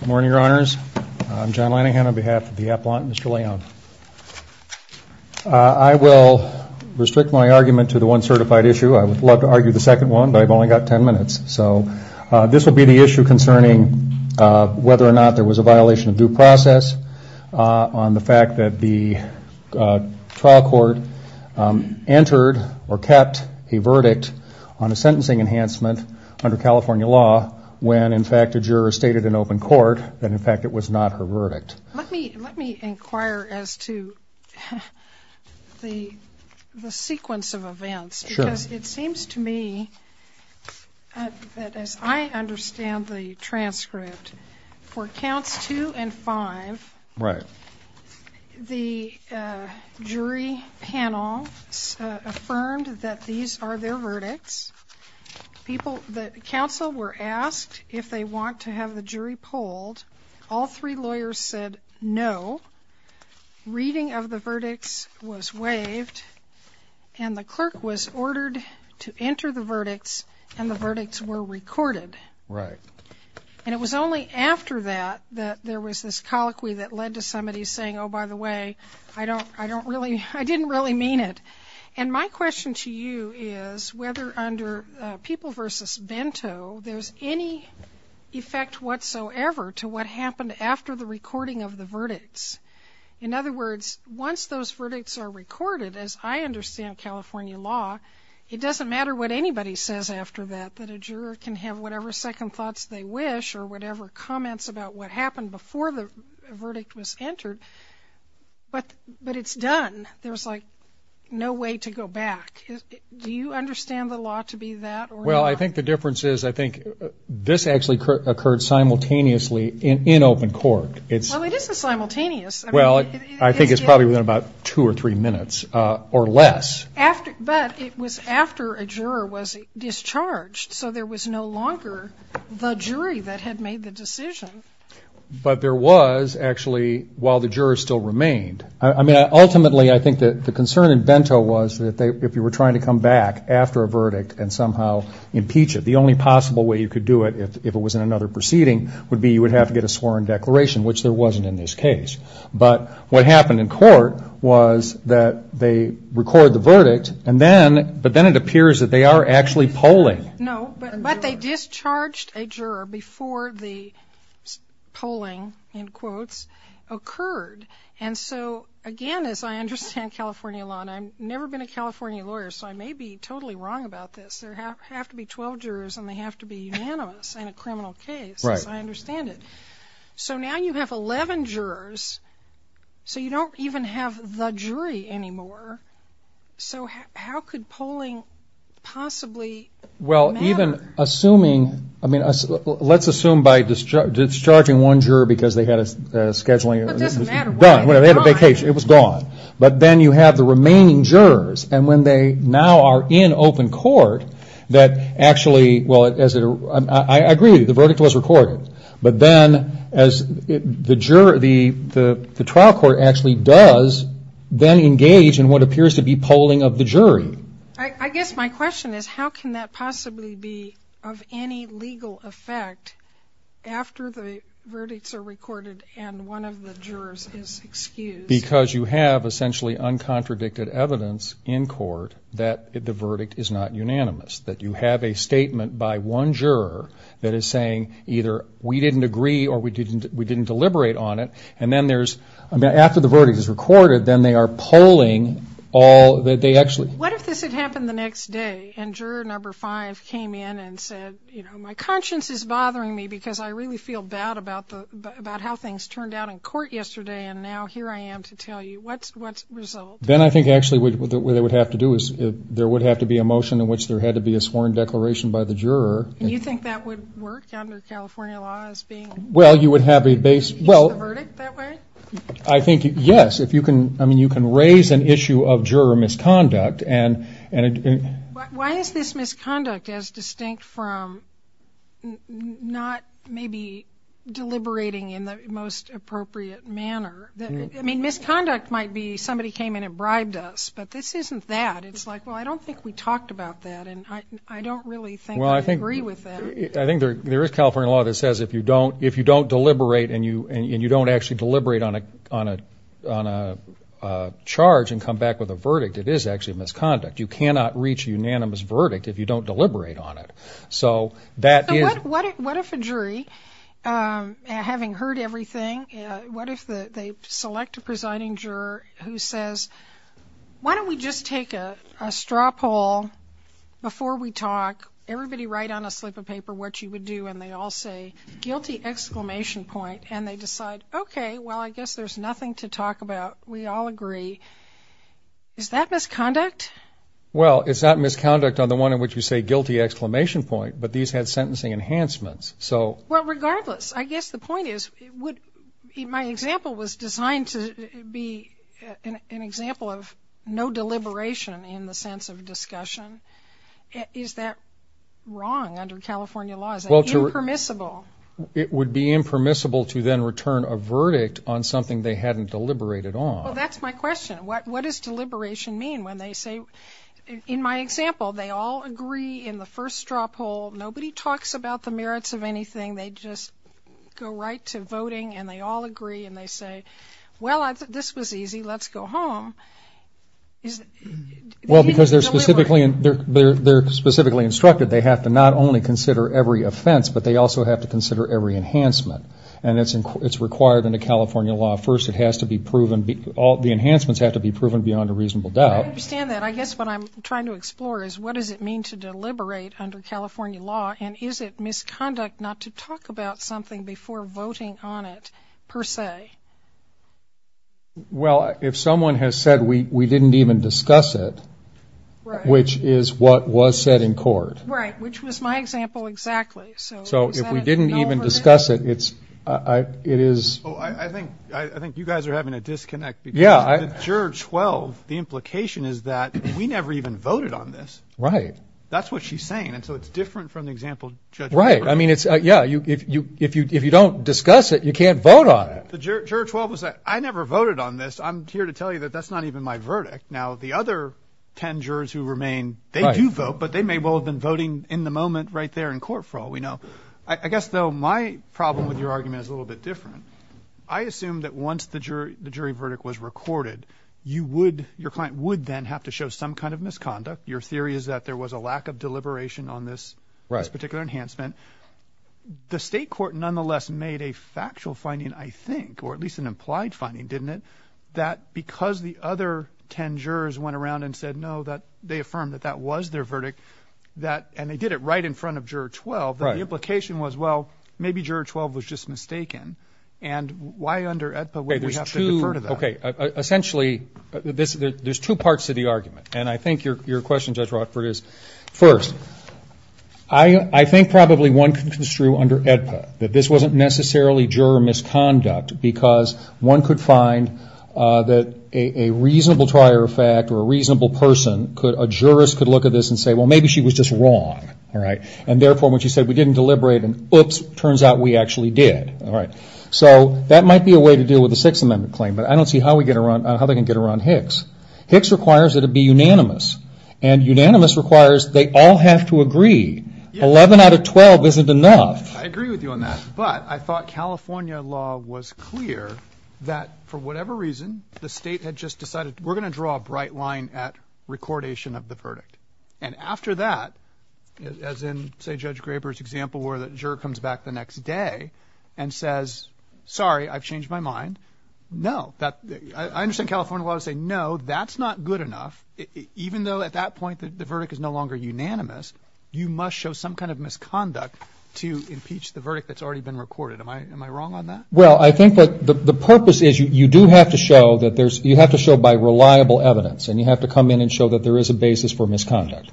Good morning, Your Honors. I'm John Linehan on behalf of the Appellant, Mr. Leon. I will restrict my argument to the one certified issue. I would love to argue the second one, but I've only got ten minutes. So this will be the issue concerning whether or not there was a violation of due process on the fact that the trial court entered or kept a verdict on a sentencing enhancement under California law when, in fact, a juror stated in open court that, in fact, it was not her verdict. Let me inquire as to the sequence of events. Sure. Because it seems to me that, as I understand the transcript, for counts two and five, Right. the jury panel affirmed that these are their verdicts. The counsel were asked if they want to have the jury polled. All three lawyers said no. Reading of the verdicts was waived, and the clerk was ordered to enter the verdicts, and the verdicts were recorded. Right. And it was only after that that there was this colloquy that led to somebody saying, Oh, by the way, I didn't really mean it. And my question to you is whether, under People v. Bento, there's any effect whatsoever to what happened after the recording of the verdicts. In other words, once those verdicts are recorded, as I understand California law, it doesn't matter what anybody says after that, that a juror can have whatever second thoughts they wish or whatever comments about what happened before the verdict was entered, but it's done. There's, like, no way to go back. Do you understand the law to be that or not? Well, I think the difference is I think this actually occurred simultaneously in open court. Well, it isn't simultaneous. Well, I think it's probably within about two or three minutes or less. But it was after a juror was discharged, so there was no longer the jury that had made the decision. But there was, actually, while the jurors still remained. I mean, ultimately, I think the concern in Bento was that if you were trying to come back after a verdict and somehow impeach it, the only possible way you could do it, if it was in another proceeding, would be you would have to get a sworn declaration, which there wasn't in this case. But what happened in court was that they record the verdict, but then it appears that they are actually polling. No, but they discharged a juror before the polling, in quotes, occurred. And so, again, as I understand California law, and I've never been a California lawyer, so I may be totally wrong about this, there have to be 12 jurors and they have to be unanimous in a criminal case, as I understand it. So now you have 11 jurors, so you don't even have the jury anymore. So how could polling possibly matter? Well, even assuming, I mean, let's assume by discharging one juror because they had a scheduling, it was done, they had a vacation, it was gone. But then you have the remaining jurors, and when they now are in open court, that actually, I agree with you, the verdict was recorded. But then the trial court actually does then engage in what appears to be polling of the jury. I guess my question is how can that possibly be of any legal effect after the verdicts are recorded and one of the jurors is excused? Because you have essentially uncontradicted evidence in court that the verdict is not unanimous, that you have a statement by one juror that is saying either we didn't agree or we didn't deliberate on it, and then there's, after the verdict is recorded, then they are polling all that they actually. What if this had happened the next day and juror number five came in and said, you know, my conscience is bothering me because I really feel bad about how things turned out in court yesterday and now here I am to tell you, what's the result? Then I think actually what they would have to do is there would have to be a motion in which there had to be a sworn declaration by the juror. And you think that would work under California law as being. Well, you would have a base. Use the verdict that way? I think, yes, if you can, I mean, you can raise an issue of juror misconduct. Why is this misconduct as distinct from not maybe deliberating in the most appropriate manner? I mean, misconduct might be somebody came in and bribed us, but this isn't that. It's like, well, I don't think we talked about that, and I don't really think I agree with that. I think there is California law that says if you don't deliberate and you don't actually deliberate on a charge and come back with a verdict, it is actually misconduct. You cannot reach a unanimous verdict if you don't deliberate on it. What if a jury, having heard everything, what if they select a presiding juror who says, why don't we just take a straw poll before we talk, everybody write on a slip of paper what you would do, and they all say guilty, exclamation point, and they decide, okay, well, I guess there's nothing to talk about. We all agree. Is that misconduct? Well, it's not misconduct on the one in which you say guilty, exclamation point, but these have sentencing enhancements. Well, regardless, I guess the point is my example was designed to be an example of no deliberation in the sense of discussion. Is that wrong under California law? Is that impermissible? It would be impermissible to then return a verdict on something they hadn't deliberated on. Well, that's my question. What does deliberation mean when they say, in my example, they all agree in the first straw poll. Nobody talks about the merits of anything. They just go right to voting, and they all agree, and they say, well, this was easy. Let's go home. Well, because they're specifically instructed they have to not only consider every offense, but they also have to consider every enhancement, and it's required under California law. First, it has to be proven, the enhancements have to be proven beyond a reasonable doubt. I understand that. I guess what I'm trying to explore is what does it mean to deliberate under California law, and is it misconduct not to talk about something before voting on it per se? Well, if someone has said we didn't even discuss it, which is what was said in court. Right, which was my example exactly. So if we didn't even discuss it, it is. Oh, I think you guys are having a disconnect. Because the Juror 12, the implication is that we never even voted on this. Right. That's what she's saying, and so it's different from the example Judge Herbert gave. Right. I mean, yeah, if you don't discuss it, you can't vote on it. The Juror 12 was like, I never voted on this. I'm here to tell you that that's not even my verdict. Now, the other ten jurors who remain, they do vote, but they may well have been voting in the moment right there in court for all we know. I guess, though, my problem with your argument is a little bit different. I assume that once the jury verdict was recorded, your client would then have to show some kind of misconduct. Your theory is that there was a lack of deliberation on this particular enhancement. The state court nonetheless made a factual finding, I think, or at least an implied finding, didn't it, that because the other ten jurors went around and said no, they affirmed that that was their verdict, and they did it right in front of Juror 12, that the implication was, well, maybe Juror 12 was just mistaken, and why under AEDPA would we have to defer to that? Okay. Essentially, there's two parts to the argument, and I think your question, Judge Rockford, is first, I think probably one thing that's true under AEDPA, that this wasn't necessarily juror misconduct because one could find that a reasonable trier of fact or a reasonable person, a jurist could look at this and say, well, maybe she was just wrong, and therefore when she said we didn't deliberate, and oops, turns out we actually did. So that might be a way to deal with a Sixth Amendment claim, but I don't see how they can get around Hicks. Hicks requires that it be unanimous, and unanimous requires they all have to agree. Eleven out of twelve isn't enough. I agree with you on that, but I thought California law was clear that for whatever reason, the state had just decided we're going to draw a bright line at recordation of the verdict. And after that, as in, say, Judge Graber's example, where the juror comes back the next day and says, sorry, I've changed my mind. No. I understand California law would say, no, that's not good enough. Even though at that point the verdict is no longer unanimous, you must show some kind of misconduct to impeach the verdict that's already been recorded. Am I wrong on that? Well, I think the purpose is you do have to show that there's, you have to show by reliable evidence, and you have to come in and show that there is a basis for misconduct.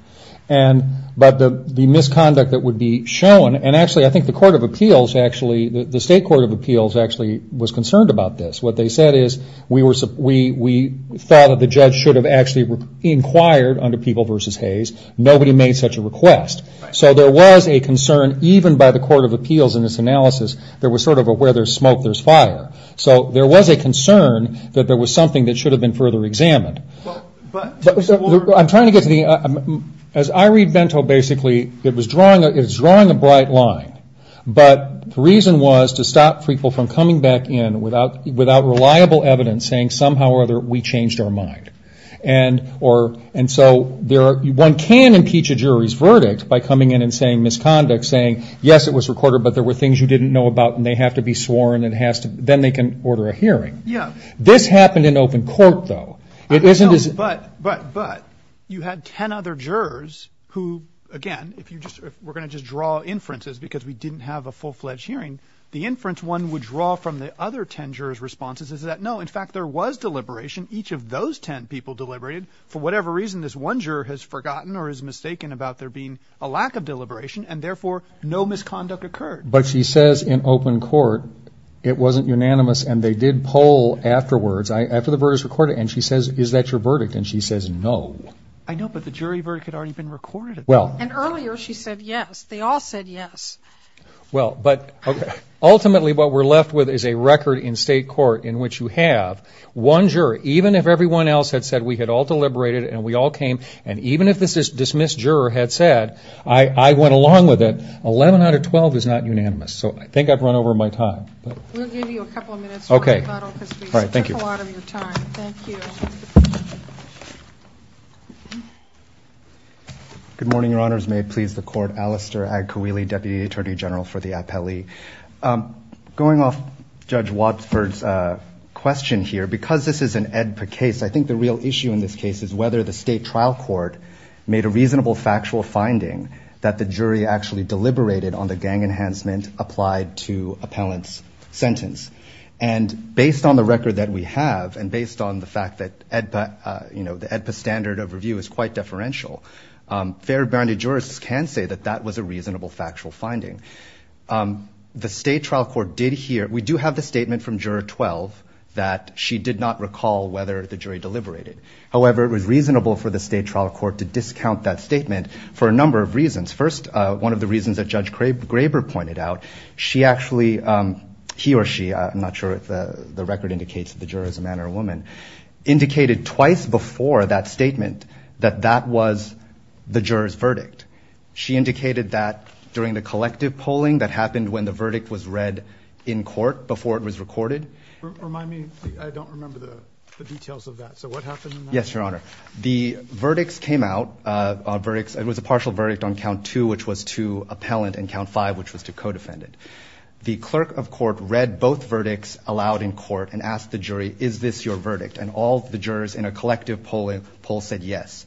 But the misconduct that would be shown, and actually I think the Court of Appeals actually, the State Court of Appeals actually was concerned about this. What they said is we thought that the judge should have actually inquired under People v. Hayes. Nobody made such a request. So there was a concern, even by the Court of Appeals in this analysis, there was sort of a where there's smoke there's fire. So there was a concern that there was something that should have been further examined. I'm trying to get to the, as I read Bento basically, it was drawing a bright line. But the reason was to stop people from coming back in without reliable evidence saying somehow or other we changed our mind. And so one can impeach a jury's verdict by coming in and saying misconduct, saying yes, it was recorded, but there were things you didn't know about, and they have to be sworn, and then they can order a hearing. This happened in open court, though. But you had ten other jurors who, again, we're going to just draw inferences because we didn't have a full-fledged hearing. The inference one would draw from the other ten jurors' responses is that no, in fact, there was deliberation. Each of those ten people deliberated. For whatever reason, this one juror has forgotten or is mistaken about there being a lack of deliberation, and therefore no misconduct occurred. But she says in open court it wasn't unanimous and they did poll afterwards, after the verdict was recorded, and she says, is that your verdict? And she says no. I know, but the jury verdict had already been recorded. And earlier she said yes. They all said yes. Well, but ultimately what we're left with is a record in state court in which you have one jury, even if everyone else had said we had all deliberated and we all came, and even if the dismissed juror had said I went along with it, 11 out of 12 is not unanimous. So I think I've run over my time. We'll give you a couple of minutes to rebuttal because we took a lot of your time. Thank you. Good morning, Your Honors. May it please the Court. Alistair Agkwili, Deputy Attorney General for the Appellee. Going off Judge Wadsworth's question here, because this is an AEDPA case, I think the real issue in this case is whether the state trial court made a reasonable factual finding that the jury actually deliberated on the gang enhancement applied to appellant's sentence. And based on the record that we have and based on the fact that AEDPA, you know, the AEDPA standard of review is quite deferential, fair-bounded jurists can say that that was a reasonable factual finding. The state trial court did hear, we do have the statement from Juror 12, that she did not recall whether the jury deliberated. However, it was reasonable for the state trial court to discount that statement for a number of reasons. First, one of the reasons that Judge Graber pointed out, she actually, he or she, I'm not sure if the record indicates that the juror is a man or a woman, indicated twice before that statement that that was the juror's verdict. She indicated that during the collective polling that happened when the verdict was read in court before it was recorded. Remind me, I don't remember the details of that. So what happened in that? Yes, Your Honor. The verdicts came out, it was a partial verdict on Count 2 which was to appellant and Count 5 which was to codefendant. The clerk of court read both verdicts aloud in court and asked the jury, is this your verdict? And all the jurors in a collective polling poll said yes,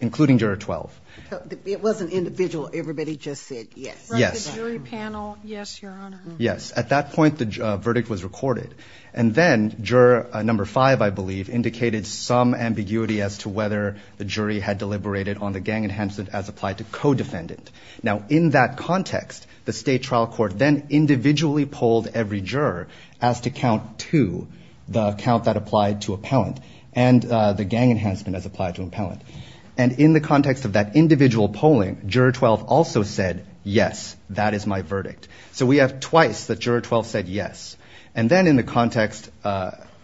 including Juror 12. It wasn't individual, everybody just said yes. Yes. From the jury panel, yes, Your Honor. Yes. At that point, the verdict was recorded. And then Juror 5, I believe, indicated some ambiguity as to whether the jury had deliberated on the gang enhancement as applied to codefendant. Now, in that context, the state trial court then individually polled every juror as to Count 2, the count that applied to appellant, and the gang enhancement as applied to appellant. And in the context of that individual polling, Juror 12 also said yes, that is my verdict. So we have twice that Juror 12 said yes. And then in the context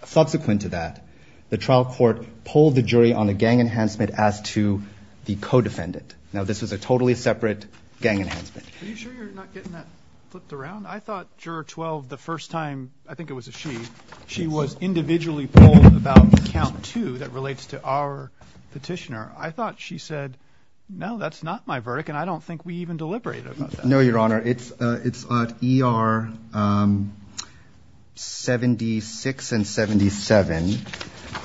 subsequent to that, the trial court polled the jury on the gang enhancement as to the codefendant. Now, this was a totally separate gang enhancement. Are you sure you're not getting that flipped around? I thought Juror 12, the first time, I think it was a she, she was individually polled about Count 2 that relates to our petitioner. I thought she said, no, that's not my verdict, and I don't think we even deliberated about that. No, Your Honor. It's at ER 76 and 77,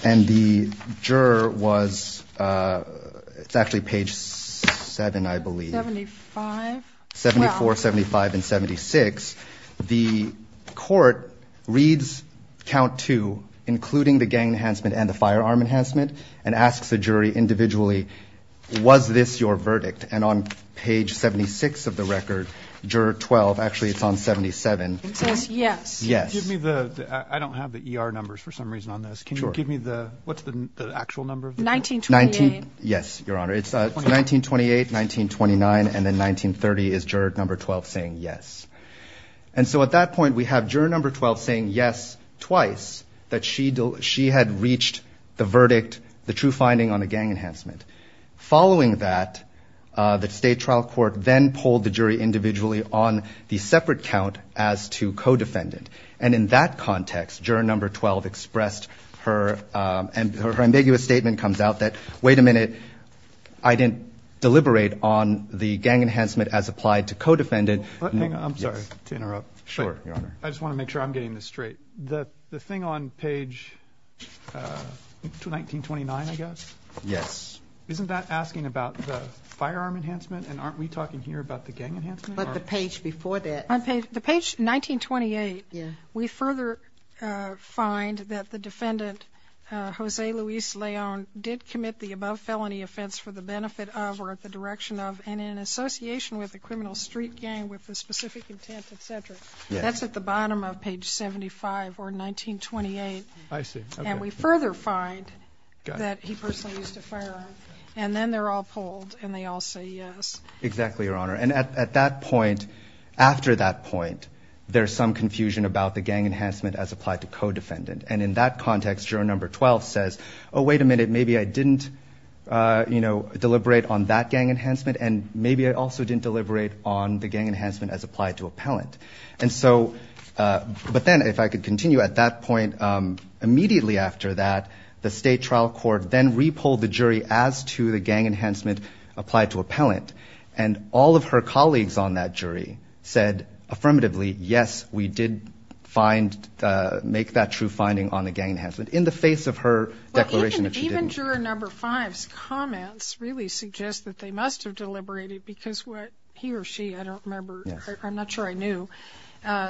and the juror was, it's actually page 7, I believe. 75. 74, 75, and 76. The court reads Count 2, including the gang enhancement and the firearm enhancement, and asks the jury individually, was this your verdict? And on page 76 of the record, Juror 12, actually it's on 77. It says yes. Yes. Give me the, I don't have the ER numbers for some reason on this. Can you give me the, what's the actual number? 1928. Yes, Your Honor. It's 1928, 1929, and then 1930 is Juror 12 saying yes. And so at that point we have Juror 12 saying yes twice, that she had reached the verdict, the true finding on the gang enhancement. Following that, the state trial court then polled the jury individually on the separate count as to co-defendant. And in that context, Juror 12 expressed her, and her ambiguous statement comes out that, wait a minute, I didn't deliberate on the gang enhancement as applied to co-defendant. Hang on, I'm sorry to interrupt. Sure, Your Honor. I just want to make sure I'm getting this straight. The thing on page 1929, I guess? Yes. Isn't that asking about the firearm enhancement, and aren't we talking here about the gang enhancement? But the page before that. The page 1928, we further find that the defendant, Jose Luis Leon, did commit the above felony offense for the benefit of or at the direction of and in association with the criminal street gang with the specific intent, et cetera. That's at the bottom of page 75 or 1928. I see. And we further find that he personally used a firearm. And then they're all polled, and they all say yes. Exactly, Your Honor. And at that point, after that point, there's some confusion about the gang enhancement as applied to co-defendant. And in that context, Juror 12 says, oh, wait a minute, maybe I didn't deliberate on that gang enhancement, and maybe I also didn't deliberate on the gang enhancement as applied to appellant. But then, if I could continue, at that point, immediately after that, the state trial court then repolled the jury as to the gang enhancement applied to appellant. And all of her colleagues on that jury said affirmatively, yes, we did make that true finding on the gang enhancement in the face of her declaration that she didn't. Even Juror 5's comments really suggest that they must have deliberated because he or she, I don't remember. I'm not sure I knew,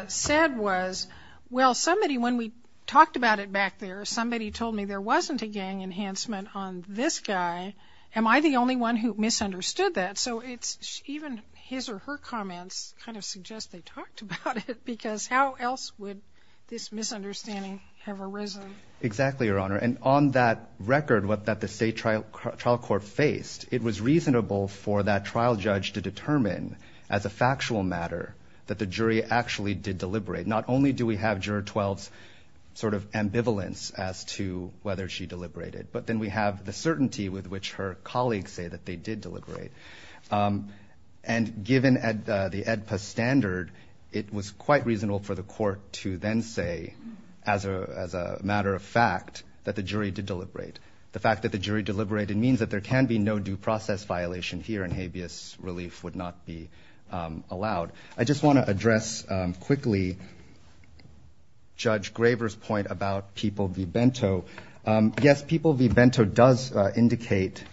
said was, well, somebody, when we talked about it back there, somebody told me there wasn't a gang enhancement on this guy. Am I the only one who misunderstood that? So it's even his or her comments kind of suggest they talked about it because how else would this misunderstanding have arisen? Exactly, Your Honor. And on that record, what the state trial court faced, it was reasonable for that trial judge to determine, as a factual matter, that the jury actually did deliberate. Not only do we have Juror 12's sort of ambivalence as to whether she deliberated, but then we have the certainty with which her colleagues say that they did deliberate. And given the AEDPA standard, it was quite reasonable for the court to then say, as a matter of fact, that the jury did deliberate. The fact that the jury deliberated means that there can be no due process violation here and habeas relief would not be allowed. I just want to address quickly Judge Graver's point about People v. Bento. Yes, People v. Bento does indicate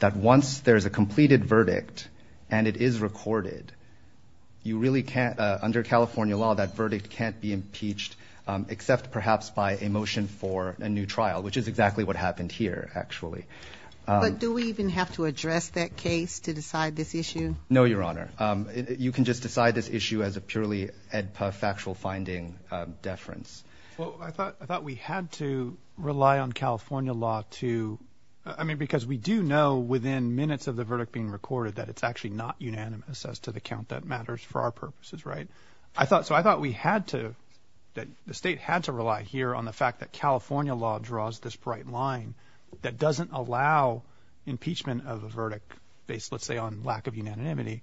that once there is a completed verdict and it is recorded, you really can't, under California law, that verdict can't be impeached except perhaps by a motion for a new trial, which is exactly what happened here, actually. But do we even have to address that case to decide this issue? No, Your Honor. You can just decide this issue as a purely AEDPA factual finding deference. Well, I thought we had to rely on California law to, I mean, because we do know within minutes of the verdict being recorded that it's actually not unanimous as to the count that matters for our purposes, right? So I thought we had to, that the state had to rely here on the fact that there was this bright line that doesn't allow impeachment of a verdict based, let's say, on lack of unanimity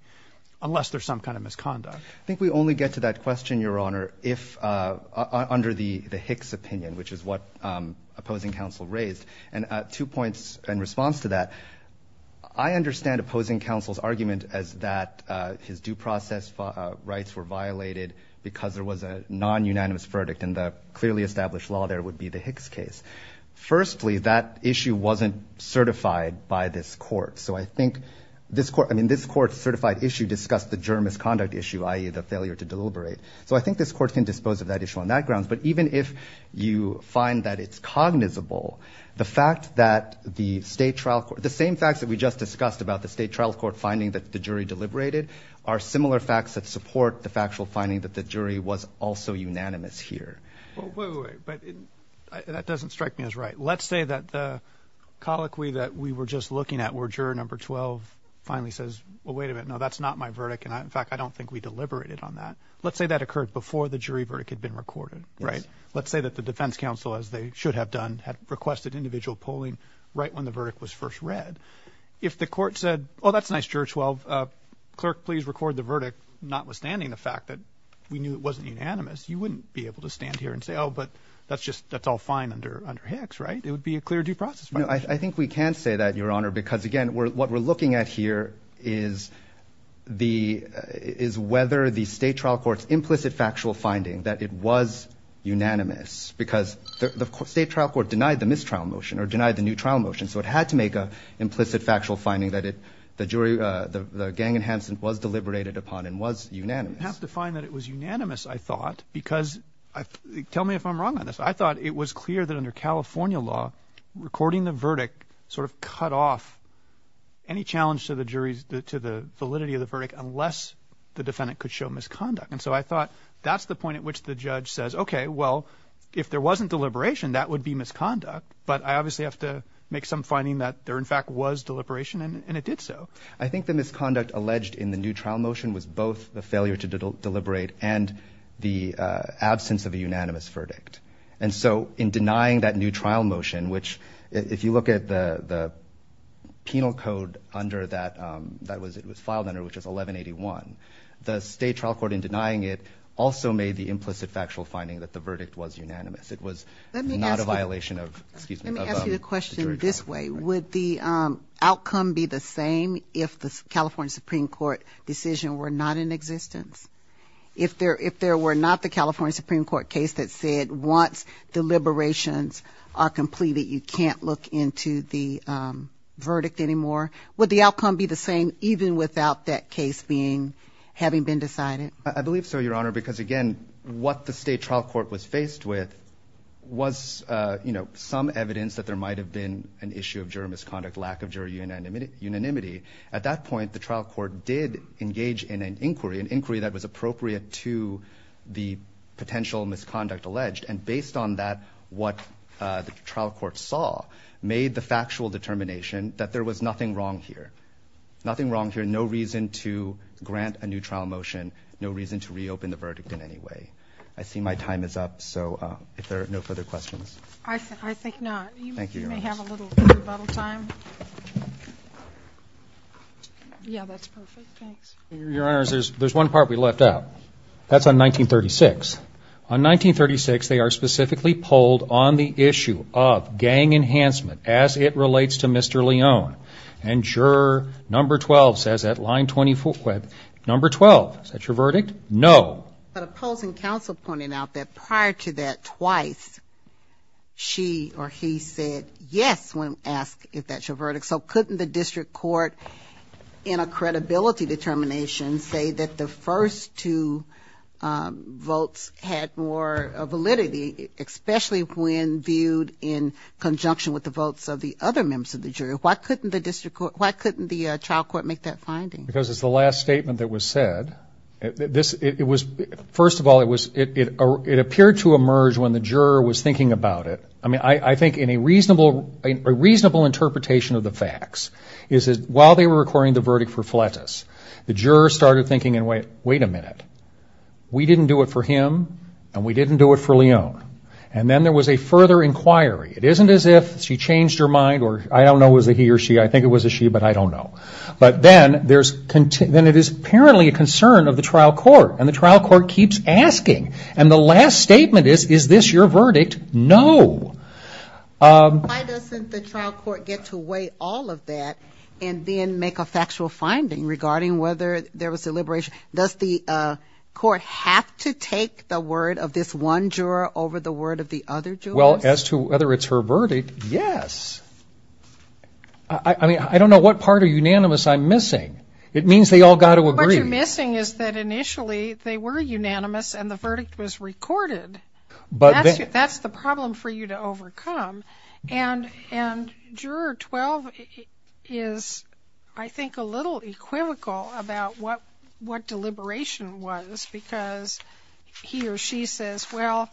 unless there's some kind of misconduct. I think we only get to that question, Your Honor, under the Hicks opinion, which is what opposing counsel raised. And two points in response to that. I understand opposing counsel's argument as that his due process rights were violated because there was a non-unanimous verdict and the clearly firstly that issue wasn't certified by this court. So I think this court, I mean, this court's certified issue discussed the juror misconduct issue, i.e. the failure to deliberate. So I think this court can dispose of that issue on that grounds. But even if you find that it's cognizable, the fact that the state trial, the same facts that we just discussed about the state trial court finding that the jury deliberated are similar facts that support the factual finding that the jury was also unanimous here. Well, wait, wait, wait. But that doesn't strike me as right. Let's say that the colloquy that we were just looking at where juror number 12 finally says, well, wait a minute. No, that's not my verdict. And in fact, I don't think we deliberated on that. Let's say that occurred before the jury verdict had been recorded. Right. Let's say that the defense counsel, as they should have done, had requested individual polling right when the verdict was first read. If the court said, oh, that's nice, juror 12. Clerk, please record the verdict. Notwithstanding the fact that we knew it wasn't unanimous, you wouldn't be able to stand here and say, oh, but that's just, that's all fine under Hicks, right? It would be a clear due process. I think we can say that, Your Honor, because again, what we're looking at here is the, is whether the state trial court's implicit factual finding that it was unanimous because the state trial court denied the mistrial motion or denied the new trial motion. So it had to make a implicit factual finding that it, the jury, the gang enhancement was deliberated upon and was unanimous. I didn't have to find that it was unanimous, I thought, because I, tell me if I'm wrong on this. I thought it was clear that under California law, recording the verdict, sort of cut off any challenge to the jury's, to the validity of the verdict unless the defendant could show misconduct. And so I thought that's the point at which the judge says, okay, well, if there wasn't deliberation, that would be misconduct. But I obviously have to make some finding that there in fact was deliberation and it did so. I think the misconduct alleged in the new trial motion was both the failure to deliberate and the absence of a unanimous verdict. And so in denying that new trial motion, which, if you look at the penal code under that, that was, it was filed under, which was 1181, the state trial court in denying it also made the implicit factual finding that the verdict was unanimous. It was not a violation of, excuse me. Let me ask you a question this way. Would the outcome be the same if the California Supreme Court decision were not in existence, if there, if there were not the California Supreme Court case that said once the liberations are completed, you can't look into the verdict anymore. Would the outcome be the same, even without that case being, having been decided? I believe so, Your Honor, because again, what the state trial court was faced with was, you know, some evidence that there might've been an issue of juror misconduct, lack of jury unanimity. At that point, the trial court did engage in an inquiry, an inquiry that was appropriate to the potential misconduct alleged. And based on that, what the trial court saw made the factual determination that there was nothing wrong here, nothing wrong here. No reason to grant a new trial motion, no reason to reopen the verdict in any way. I see my time is up. So if there are no further questions, I think not. Thank you. You may have a little rebuttal time. Yeah, that's perfect. Thanks. Your Honor, there's, there's one part we left out. That's on 1936. On 1936, they are specifically polled on the issue of gang enhancement as it relates to Mr. Leone. And juror number 12 says at line 24, number 12, is that your verdict? No. But opposing counsel pointed out that prior to that twice, she or he said yes, when asked if that's your verdict. So couldn't the district court in a credibility determination say that the first two votes had more validity, especially when viewed in conjunction with the votes of the other members of the jury. Why couldn't the district court, why couldn't the trial court make that finding? Because it's the last statement that was said. It was, first of all, it was, it appeared to emerge when the juror was thinking about it. I mean, I think in a reasonable, a reasonable interpretation of the facts is that while they were recording the verdict for Fletus, the juror started thinking and went, wait a minute. We didn't do it for him and we didn't do it for Leone. And then there was a further inquiry. It isn't as if she changed her mind or I don't know, was it he or she? I think it was a she, but I don't know. But then there's, then it is apparently a concern of the trial court. And the trial court keeps asking. And the last statement is, is this your verdict? No. Why doesn't the trial court get to weigh all of that and then make a factual finding regarding whether there was a liberation? Does the court have to take the word of this one juror over the word of the other jurors? Well, as to whether it's her verdict, yes. I mean, I don't know what part of unanimous I'm missing. It means they all got to agree. What you're missing is that initially they were unanimous and the verdict was recorded, but that's the problem for you to overcome. And, and juror 12 is, I think a little equivocal about what, what deliberation was because he or she says, well,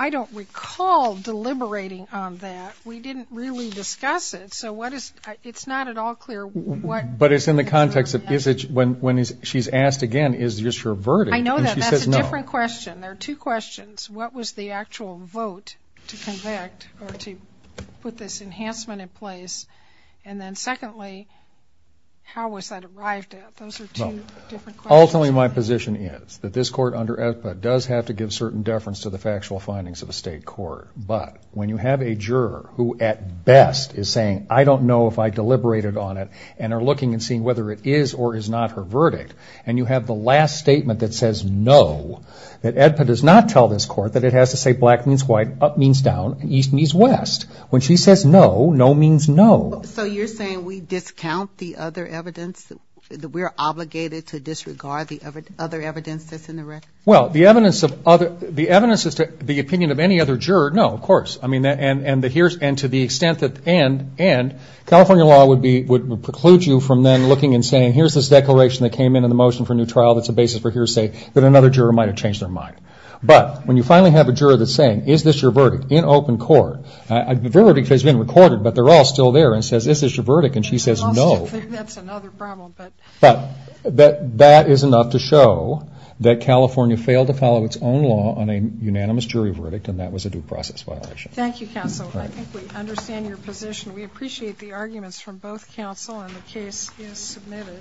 I don't recall deliberating on that. We didn't really discuss it. So what is, it's not at all clear. But it's in the context of, is it when, when is she's asked again, is this your verdict? I know that that's a different question. There are two questions. What was the actual vote to convict or to put this enhancement in place? And then secondly, how was that arrived at? Those are two different questions. Ultimately, my position is that this court under EFPA does have to give certain deference to the factual findings of a state court. But when you have a juror who at best is saying, I don't know if I deliberated on it and are looking and seeing whether it is or is not her verdict. And you have the last statement that says no, that EFPA does not tell this court that it has to say black means white, up means down and east means west. When she says no, no means no. So you're saying we discount the other evidence that we're obligated to disregard the other evidence that's in the record. Well, the evidence of other, the evidence is to the opinion of any other juror. No, of course. I mean, and to the extent that and California law would preclude you from then looking and saying, here's this declaration that came in in the motion for a new trial that's a basis for hearsay that another juror might have changed their mind. But when you finally have a juror that's saying, is this your verdict in open court, the verdict has been recorded but they're all still there and says, is this your verdict? And she says no. I still think that's another problem. But that is enough to show that California failed to follow its own law on a process violation. Thank you counsel. I think we understand your position. We appreciate the arguments from both counsel and the case is submitted.